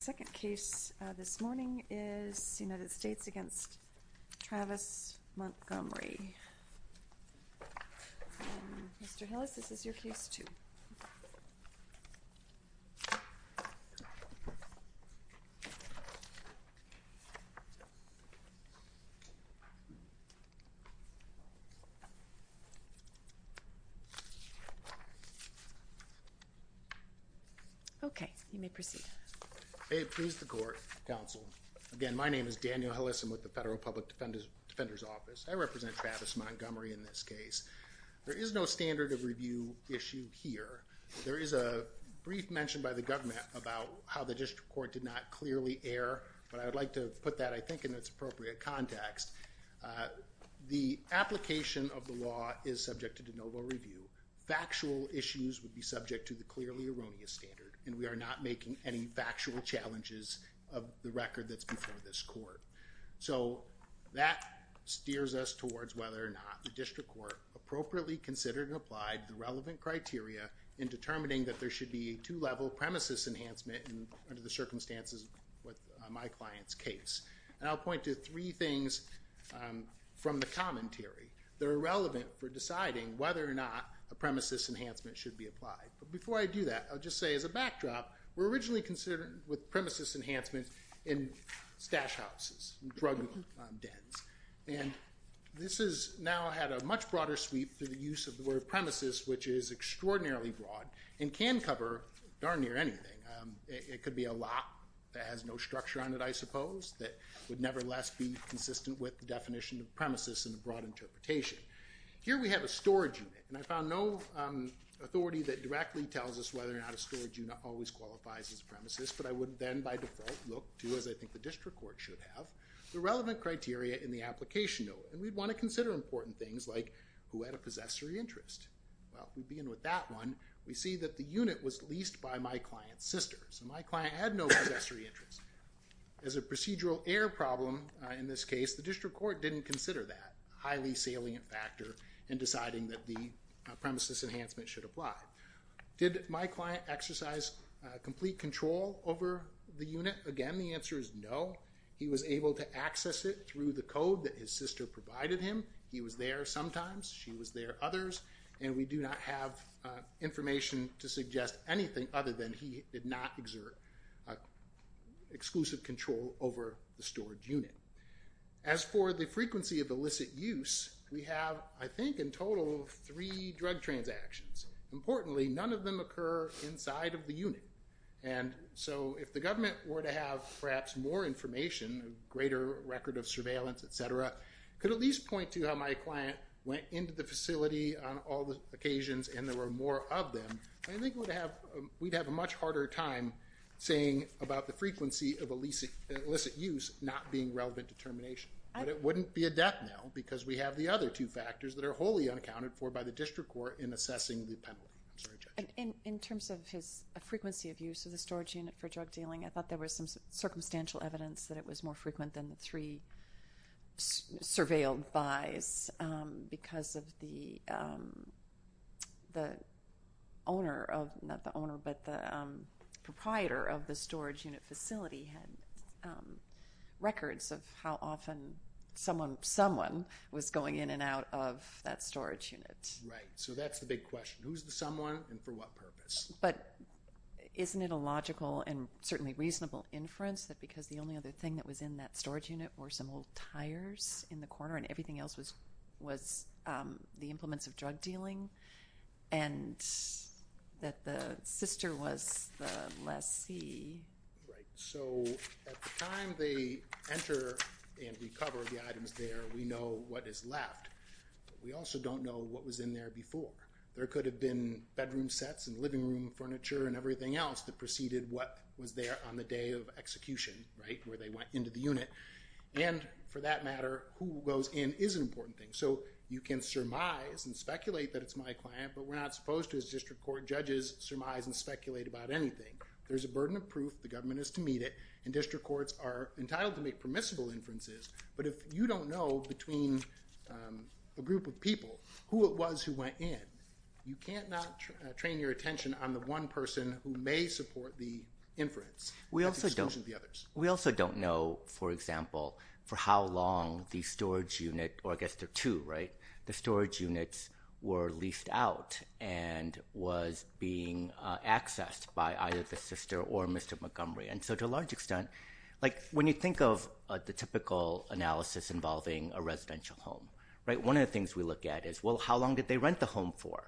The second case this morning is United States v. Travis Montgomery. Mr. Hillis, this is your case 2. Okay, you may proceed. May it please the Court, Counsel. Again, my name is Daniel Hillis. I'm with the Federal Public Defender's Office. I represent Travis Montgomery in this case. There is no standard of review issue here. There is a brief mention by the government about how the district court did not clearly err, but I would like to put that, I think, in its appropriate context. The application of the law is subject to de novo review. Factual issues would be subject to the clearly erroneous standard, and we are not making any factual challenges of the record that's before this Court. So that steers us towards whether or not the district court appropriately considered and applied the relevant criteria in determining that there should be a two-level premises enhancement under the circumstances of my client's case. And I'll point to three things from the commentary that are relevant for deciding whether or not a premises enhancement should be applied. But before I do that, I'll just say as a backdrop, we're originally considering with premises enhancements in stash houses, drug dens. And this has now had a much broader sweep through the use of the word premises, which is extraordinarily broad and can cover darn near anything. It could be a lot that has no structure on it, I suppose, that would nevertheless be consistent with the definition of premises in a broad interpretation. Here we have a storage unit, and I found no authority that directly tells us whether or not a storage unit always qualifies as a premises. But I would then by default look to, as I think the district court should have, the relevant criteria in the application note. And we'd want to consider important things like who had a possessory interest. Well, we begin with that one. We see that the unit was leased by my client's sister. So my client had no possessory interest. As a procedural error problem in this case, the district court didn't consider that. It was a highly salient factor in deciding that the premises enhancement should apply. Did my client exercise complete control over the unit? Again, the answer is no. He was able to access it through the code that his sister provided him. He was there sometimes. She was there others. And we do not have information to suggest anything other than he did not exert exclusive control over the storage unit. As for the frequency of illicit use, we have, I think, in total, three drug transactions. Importantly, none of them occur inside of the unit. And so if the government were to have perhaps more information, a greater record of surveillance, et cetera, could at least point to how my client went into the facility on all the occasions and there were more of them. I think we'd have a much harder time saying about the frequency of illicit use not being relevant determination. But it wouldn't be a death knell because we have the other two factors that are wholly unaccounted for by the district court in assessing the penalty. I'm sorry, Judge. In terms of his frequency of use of the storage unit for drug dealing, I thought there was some circumstantial evidence that it was more frequent than the three surveilled buys because of the owner of, not the owner, but the proprietor of the storage unit facility had records of how often someone was going in and out of that storage unit. Right. So that's the big question. Who's the someone and for what purpose? But isn't it a logical and certainly reasonable inference that because the only other thing that was in that storage unit were some old tires in the corner and everything else was the implements of drug dealing and that the sister was the lessee? Right. So at the time they enter and recover the items there, we know what is left. We also don't know what was in there before. There could have been bedroom sets and living room furniture and everything else that preceded what was there on the day of execution, right, where they went into the unit. And for that matter, who goes in is an important thing. So you can surmise and speculate that it's my client, but we're not supposed to as district court judges surmise and speculate about anything. There's a burden of proof, the government is to meet it, and district courts are entitled to make permissible inferences. But if you don't know between a group of people who it was who went in, you can't not train your attention on the one person who may support the inference. We also don't know, for example, for how long the storage unit or I guess there are two, right, the storage units were leased out and was being accessed by either the sister or Mr. Montgomery. And so to a large extent, like when you think of the typical analysis involving a residential home, right, one of the things we look at is, well, how long did they rent the home for?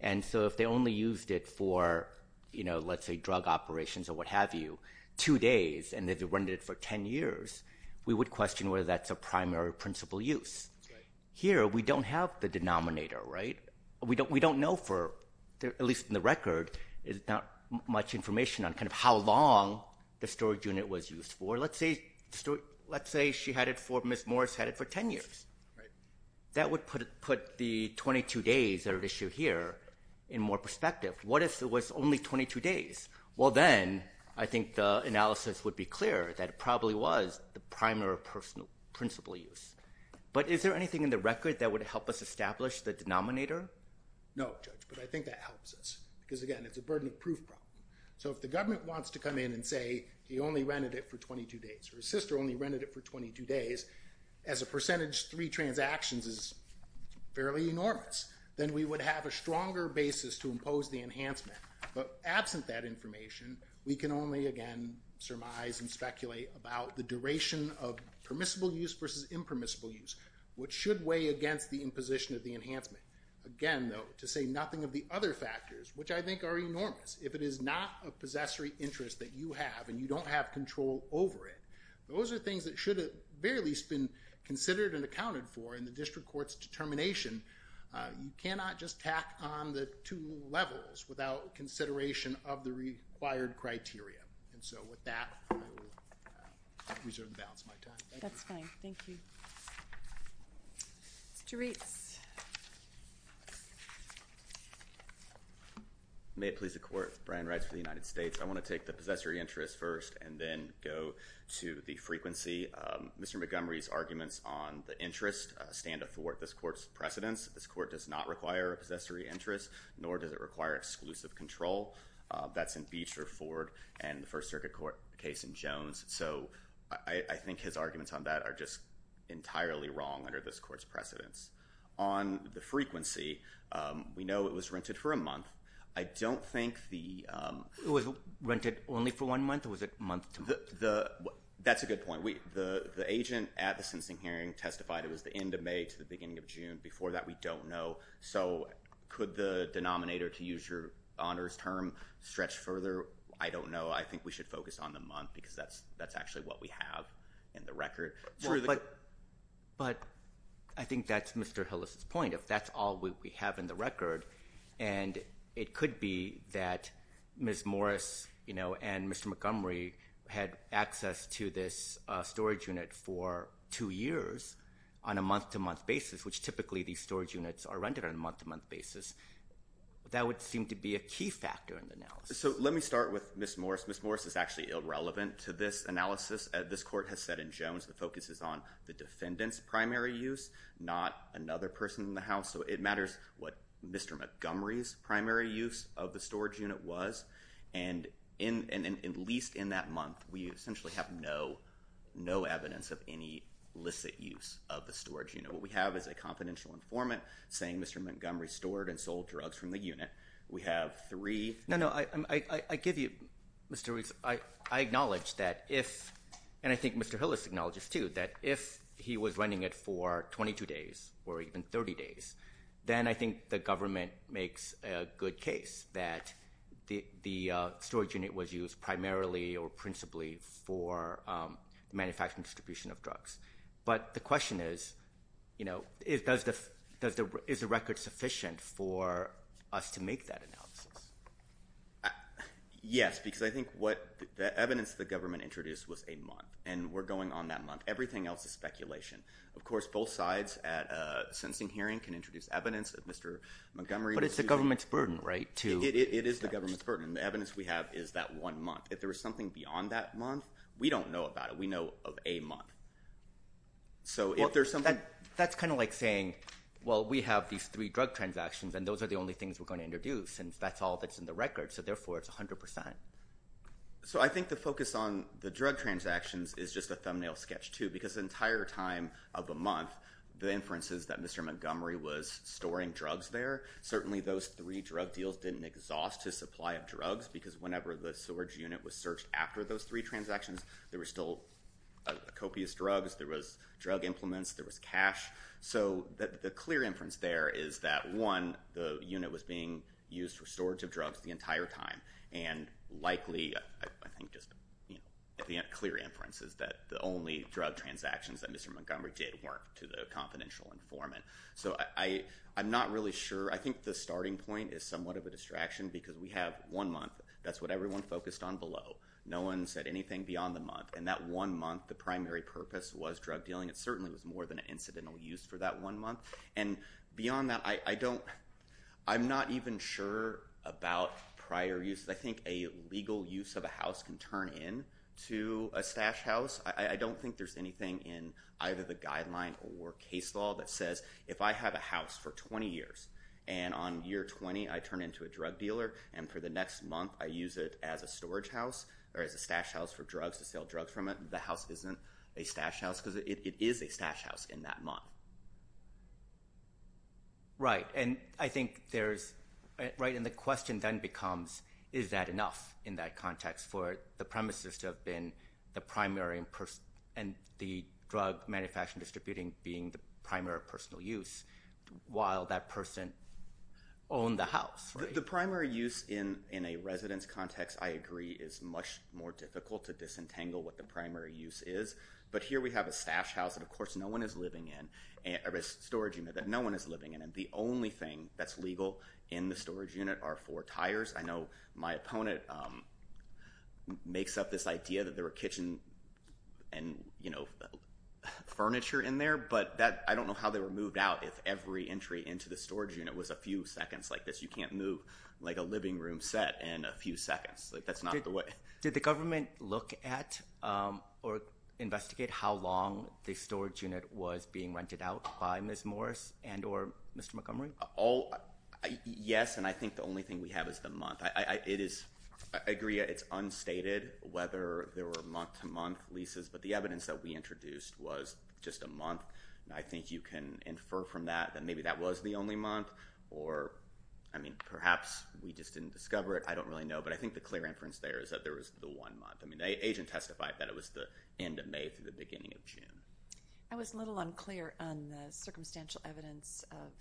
And so if they only used it for, you know, let's say drug operations or what have you, two days, and they've rented it for 10 years, we would question whether that's a primary principle use. Here we don't have the denominator, right? We don't know for, at least in the record, there's not much information on kind of how long the storage unit was used for. Let's say she had it for, Ms. Morris had it for 10 years. That would put the 22 days that are at issue here in more perspective. What if it was only 22 days? Well, then I think the analysis would be clear that it probably was the primary principle use. But is there anything in the record that would help us establish the denominator? No, Judge, but I think that helps us because, again, it's a burden of proof problem. So if the government wants to come in and say he only rented it for 22 days or his sister only rented it for 22 days, as a percentage, three transactions is fairly enormous. Then we would have a stronger basis to impose the enhancement. But absent that information, we can only, again, surmise and speculate about the duration of permissible use versus impermissible use. What should weigh against the imposition of the enhancement? Again, though, to say nothing of the other factors, which I think are enormous. If it is not a possessory interest that you have and you don't have control over it, those are things that should have at the very least been considered and accounted for in the district court's determination. You cannot just tack on the two levels without consideration of the required criteria. And so with that, I will reserve the balance of my time. That's fine. Thank you. Mr. Reitz. May it please the Court, Brian Reitz for the United States. I want to take the possessory interest first and then go to the frequency. Mr. Montgomery's arguments on the interest stand athwart this Court's precedence. This Court does not require a possessory interest, nor does it require exclusive control. That's in Beecher, Ford, and the First Circuit case in Jones. So I think his arguments on that are just entirely wrong under this Court's precedence. On the frequency, we know it was rented for a month. I don't think the— It was rented only for one month, or was it month to month? That's a good point. The agent at the sentencing hearing testified it was the end of May to the beginning of June. Before that, we don't know. So could the denominator, to use your honors term, stretch further? I don't know. I think we should focus on the month because that's actually what we have in the record. But I think that's Mr. Hillis' point. If that's all we have in the record, and it could be that Ms. Morris and Mr. Montgomery had access to this storage unit for two years on a month-to-month basis, which typically these storage units are rented on a month-to-month basis, that would seem to be a key factor in the analysis. So let me start with Ms. Morris. Ms. Morris is actually irrelevant to this analysis. This Court has said in Jones the focus is on the defendant's primary use, not another person in the house. So it matters what Mr. Montgomery's primary use of the storage unit was. And at least in that month, we essentially have no evidence of any licit use of the storage unit. What we have is a confidential informant saying Mr. Montgomery stored and sold drugs from the unit. We have three- No, no. I give you, Mr. Riggs, I acknowledge that if, and I think Mr. Hillis acknowledges too, that if he was renting it for 22 days or even 30 days, then I think the government makes a good case that the storage unit was used primarily or principally for manufacturing distribution of drugs. But the question is, you know, is the record sufficient for us to make that analysis? Yes, because I think what the evidence the government introduced was a month, and we're going on that month. Everything else is speculation. Of course, both sides at a sentencing hearing can introduce evidence that Mr. Montgomery was using- But it's the government's burden, right, to- It is the government's burden. The evidence we have is that one month. If there was something beyond that month, we don't know about it. We know of a month. So if there's something- That's kind of like saying, well, we have these three drug transactions, and those are the only things we're going to introduce, and that's all that's in the record. So therefore, it's 100%. So I think the focus on the drug transactions is just a thumbnail sketch too, because the entire time of a month, the inference is that Mr. Montgomery was storing drugs there. Certainly, those three drug deals didn't exhaust his supply of drugs, because whenever the storage unit was searched after those three transactions, there were still copious drugs. There was drug implements. There was cash. So the clear inference there is that, one, the unit was being used for storage of drugs the entire time, and likely, I think just the clear inference is that the only drug transactions that Mr. Montgomery did weren't to the confidential informant. So I'm not really sure. I think the starting point is somewhat of a distraction, because we have one month. That's what everyone focused on below. No one said anything beyond the month, and that one month, the primary purpose was drug dealing. It certainly was more than an incidental use for that one month. And beyond that, I'm not even sure about prior use. I think a legal use of a house can turn into a stash house. I don't think there's anything in either the guideline or case law that says if I have a house for 20 years, and on year 20, I turn into a drug dealer, and for the next month, I use it as a storage house, or as a stash house for drugs to sell drugs from it, the house isn't a stash house, because it is a stash house in that month. Right. And I think there's right in the question then becomes is that enough in that context for the premises to have been the primary and the drug manufacturing distributing being the primary personal use while that person owned the house, right? The primary use in a residence context, I agree, is much more difficult to disentangle what the primary use is. But here we have a stash house that, of course, no one is living in, or a storage unit that no one is living in, and the only thing that's legal in the storage unit are four tires. I know my opponent makes up this idea that there were kitchen and, you know, furniture in there, but I don't know how they were moved out if every entry into the storage unit was a few seconds like this. You can't move, like, a living room set in a few seconds. Did the government look at or investigate how long the storage unit was being rented out by Ms. Morris and or Mr. Montgomery? Yes, and I think the only thing we have is the month. I agree it's unstated whether there were month-to-month leases, but the evidence that we introduced was just a month. I think you can infer from that that maybe that was the only month, or, I mean, perhaps we just didn't discover it. I don't really know, but I think the clear inference there is that there was the one month. I mean, the agent testified that it was the end of May through the beginning of June. I was a little unclear on the circumstantial evidence of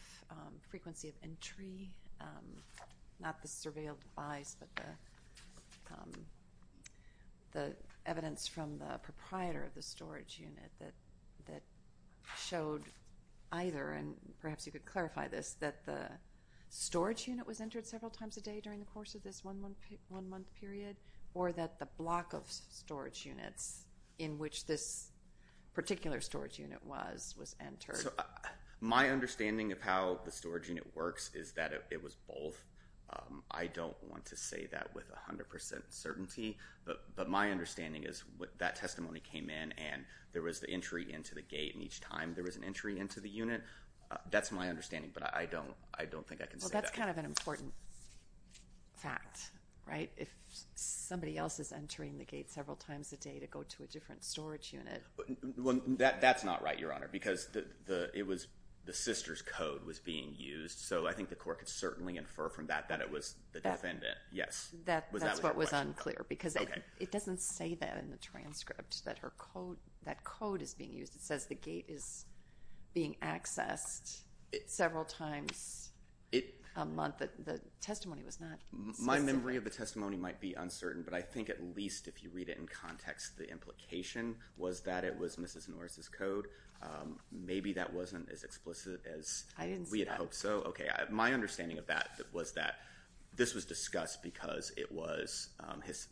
frequency of entry, not the surveilled buys, but the evidence from the proprietor of the storage unit that showed either, and perhaps you could clarify this, that the storage unit was entered several times a day during the course of this one-month period, or that the block of storage units in which this particular storage unit was was entered. So my understanding of how the storage unit works is that it was both. I don't want to say that with 100% certainty, but my understanding is that testimony came in, and there was the entry into the gate, and each time there was an entry into the unit. That's my understanding, but I don't think I can say that. Well, that's kind of an important fact, right? If somebody else is entering the gate several times a day to go to a different storage unit. Well, that's not right, Your Honor, because the sister's code was being used, so I think the court could certainly infer from that that it was the defendant. Yes. That's what was unclear, because it doesn't say that in the transcript, that code is being used. It says the gate is being accessed several times a month. The testimony was not specific. My memory of the testimony might be uncertain, but I think at least if you read it in context, the implication was that it was Mrs. Norris' code. Maybe that wasn't as explicit as we had hoped. I didn't see that. Okay. My understanding of that was that this was discussed because it was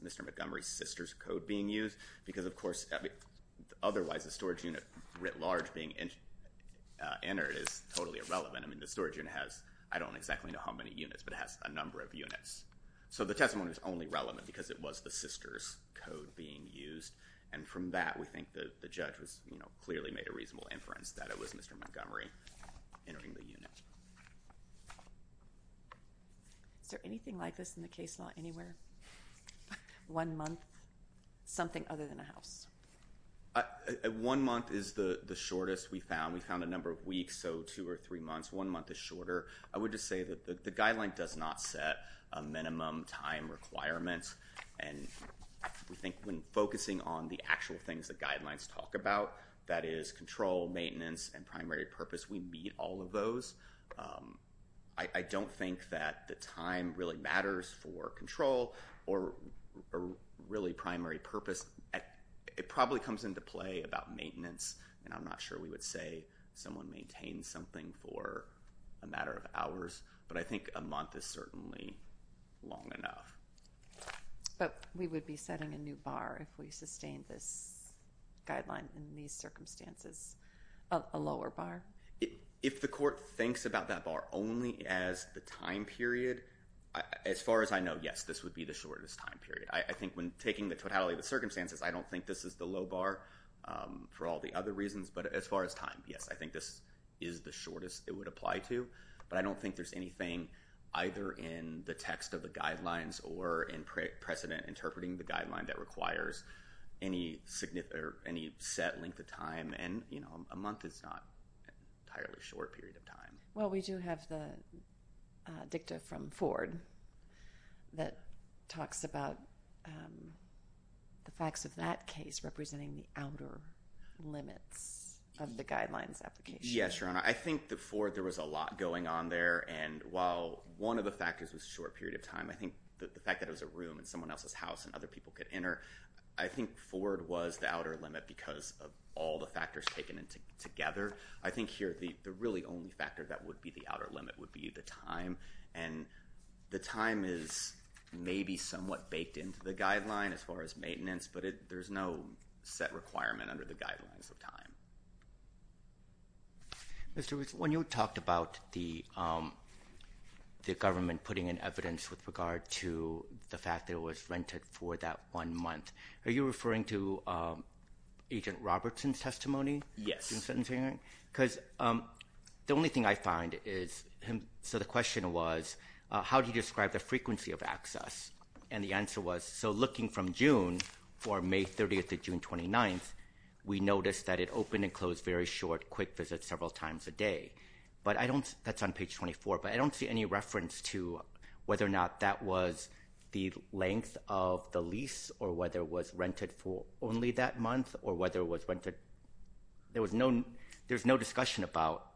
Mr. Montgomery's sister's code being used, because, of course, otherwise the storage unit writ large being entered is totally irrelevant. I mean, the storage unit has, I don't exactly know how many units, but it has a number of units. So the testimony was only relevant because it was the sister's code being used, and from that we think the judge clearly made a reasonable inference that it was Mr. Montgomery entering the unit. Is there anything like this in the case law anywhere? One month, something other than a house. One month is the shortest we found. We found a number of weeks, so two or three months. One month is shorter. I would just say that the guideline does not set a minimum time requirement, and we think when focusing on the actual things the guidelines talk about, that is control, maintenance, and primary purpose, we meet all of those. I don't think that the time really matters for control or really primary purpose. It probably comes into play about maintenance, and I'm not sure we would say someone maintains something for a matter of hours, but I think a month is certainly long enough. But we would be setting a new bar if we sustained this guideline in these circumstances, a lower bar? If the court thinks about that bar only as the time period, as far as I know, yes, this would be the shortest time period. I think when taking the totality of the circumstances, I don't think this is the low bar for all the other reasons, but as far as time, yes, I think this is the shortest it would apply to, but I don't think there's anything either in the text of the guidelines or in precedent interpreting the guideline that requires any set length of time, and a month is not an entirely short period of time. Well, we do have the dicta from Ford that talks about the facts of that case representing the outer limits of the guidelines application. Yes, Your Honor. I think the Ford, there was a lot going on there, and while one of the factors was short period of time, I think the fact that it was a room in someone else's house and other people could enter, I think Ford was the outer limit because of all the factors taken together. I think here the really only factor that would be the outer limit would be the time, and the time is maybe somewhat baked into the guideline as far as maintenance, but there's no set requirement under the guidelines of time. Mr. Woods, when you talked about the government putting in evidence with regard to the fact that it was rented for that one month, are you referring to Agent Robertson's testimony? Yes. Because the only thing I find is, so the question was, how do you describe the frequency of access? And the answer was, so looking from June, for May 30th to June 29th, we noticed that it opened and closed very short, quick visits several times a day. That's on page 24, but I don't see any reference to whether or not that was the length of the lease or whether it was rented for only that month or whether it was rented. There's no discussion about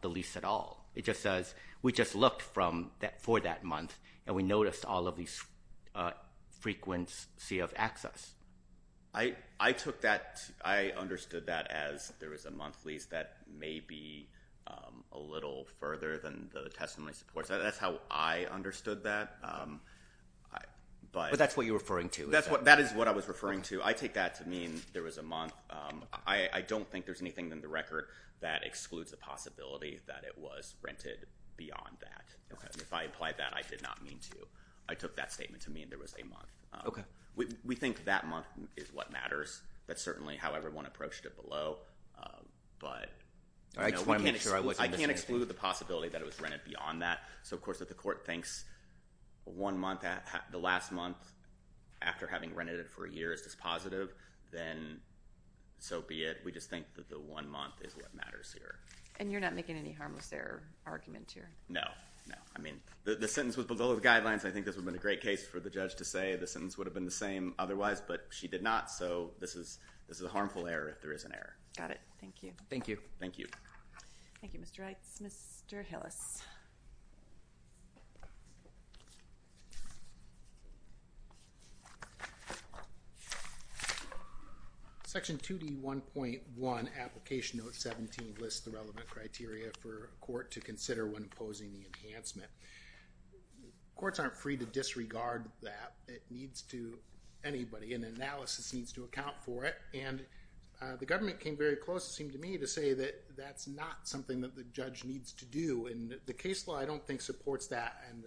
the lease at all. It just says we just looked for that month, and we noticed all of these frequency of access. I took that. I understood that as there was a month lease that may be a little further than the testimony supports. That's how I understood that. But that's what you're referring to. That is what I was referring to. I take that to mean there was a month. I don't think there's anything in the record that excludes the possibility that it was rented beyond that. If I implied that, I did not mean to. I took that statement to mean there was a month. We think that month is what matters. That's certainly how everyone approached it below, but I can't exclude the possibility that it was rented beyond that. Of course, if the court thinks the last month after having rented it for a year is dispositive, then so be it. We just think that the one month is what matters here. And you're not making any harmless error argument here? No. The sentence was below the guidelines. I think this would have been a great case for the judge to say the sentence would have been the same otherwise, but she did not. So this is a harmful error if there is an error. Got it. Thank you. Thank you. Thank you. Thank you, Mr. Reitz. Mr. Hillis. Section 2D1.1 Application Note 17 lists the relevant criteria for a court to consider when imposing the enhancement. Courts aren't free to disregard that. It needs to – anybody in analysis needs to account for it. And the government came very close, it seemed to me, to say that that's not something that the judge needs to do and the case law I don't think supports that. And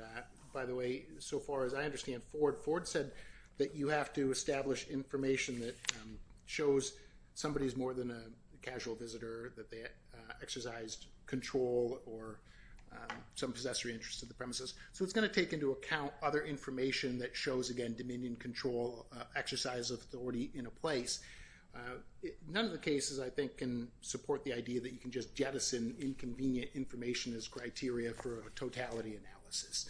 by the way, so far as I understand, Ford said that you have to establish information that shows somebody is more than a casual visitor, that they exercised control or some possessory interest of the premises. So it's going to take into account other information that shows, again, dominion, control, exercise of authority in a place. None of the cases, I think, can support the idea that you can just jettison inconvenient information as criteria for a totality analysis.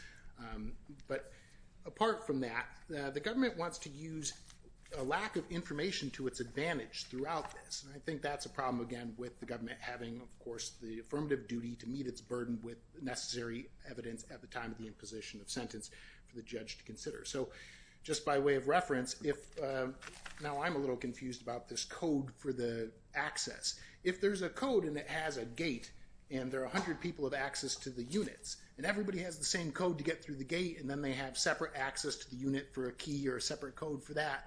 But apart from that, the government wants to use a lack of information to its advantage throughout this, and I think that's a problem, again, with the government having, of course, the affirmative duty to meet its burden with necessary evidence at the time of the imposition of sentence for the judge to consider. So just by way of reference, now I'm a little confused about this code for the access. If there's a code and it has a gate and there are a hundred people of access to the units and everybody has the same code to get through the gate and then they have separate access to the unit for a key or a separate code for that,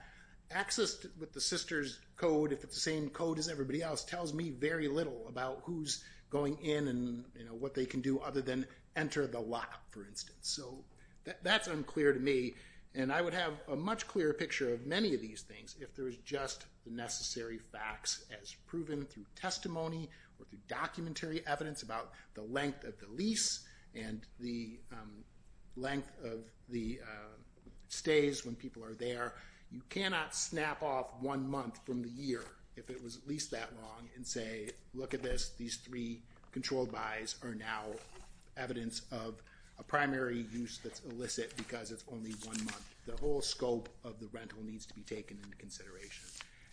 access with the sister's code, if it's the same code as everybody else, tells me very little about who's going in and what they can do other than enter the lot, for instance. So that's unclear to me, and I would have a much clearer picture of many of these things if there was just the necessary facts as proven through testimony or through documentary evidence about the length of the lease and the length of the stays when people are there. You cannot snap off one month from the year if it was at least that long and say, look at this, these three controlled buys are now evidence of a primary use that's illicit because it's only one month. The whole scope of the rental needs to be taken into consideration.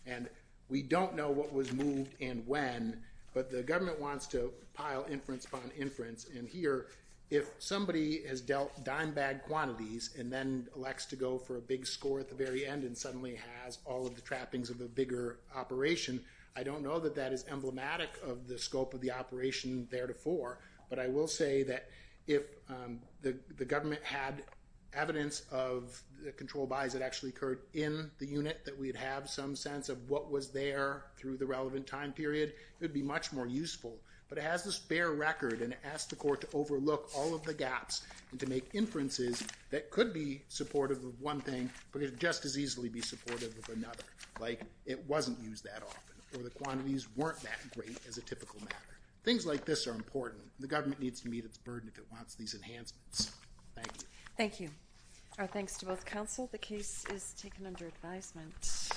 And we don't know what was moved and when, but the government wants to pile inference upon inference. And here, if somebody has dealt dime bag quantities and then elects to go for a big score at the very end and suddenly has all of the trappings of a bigger operation, I don't know that that is emblematic of the scope of the operation theretofore, but I will say that if the government had evidence of the controlled buys that actually occurred in the unit, that we'd have some sense of what was there through the relevant time period, it would be much more useful. But it has this bare record, and it asks the court to overlook all of the gaps and to make inferences that could be supportive of one thing but could just as easily be supportive of another. Like it wasn't used that often, or the quantities weren't that great as a typical matter. Things like this are important. The government needs to meet its burden if it wants these enhancements. Thank you. Thank you. Our thanks to both counsel. The case is taken under advisement.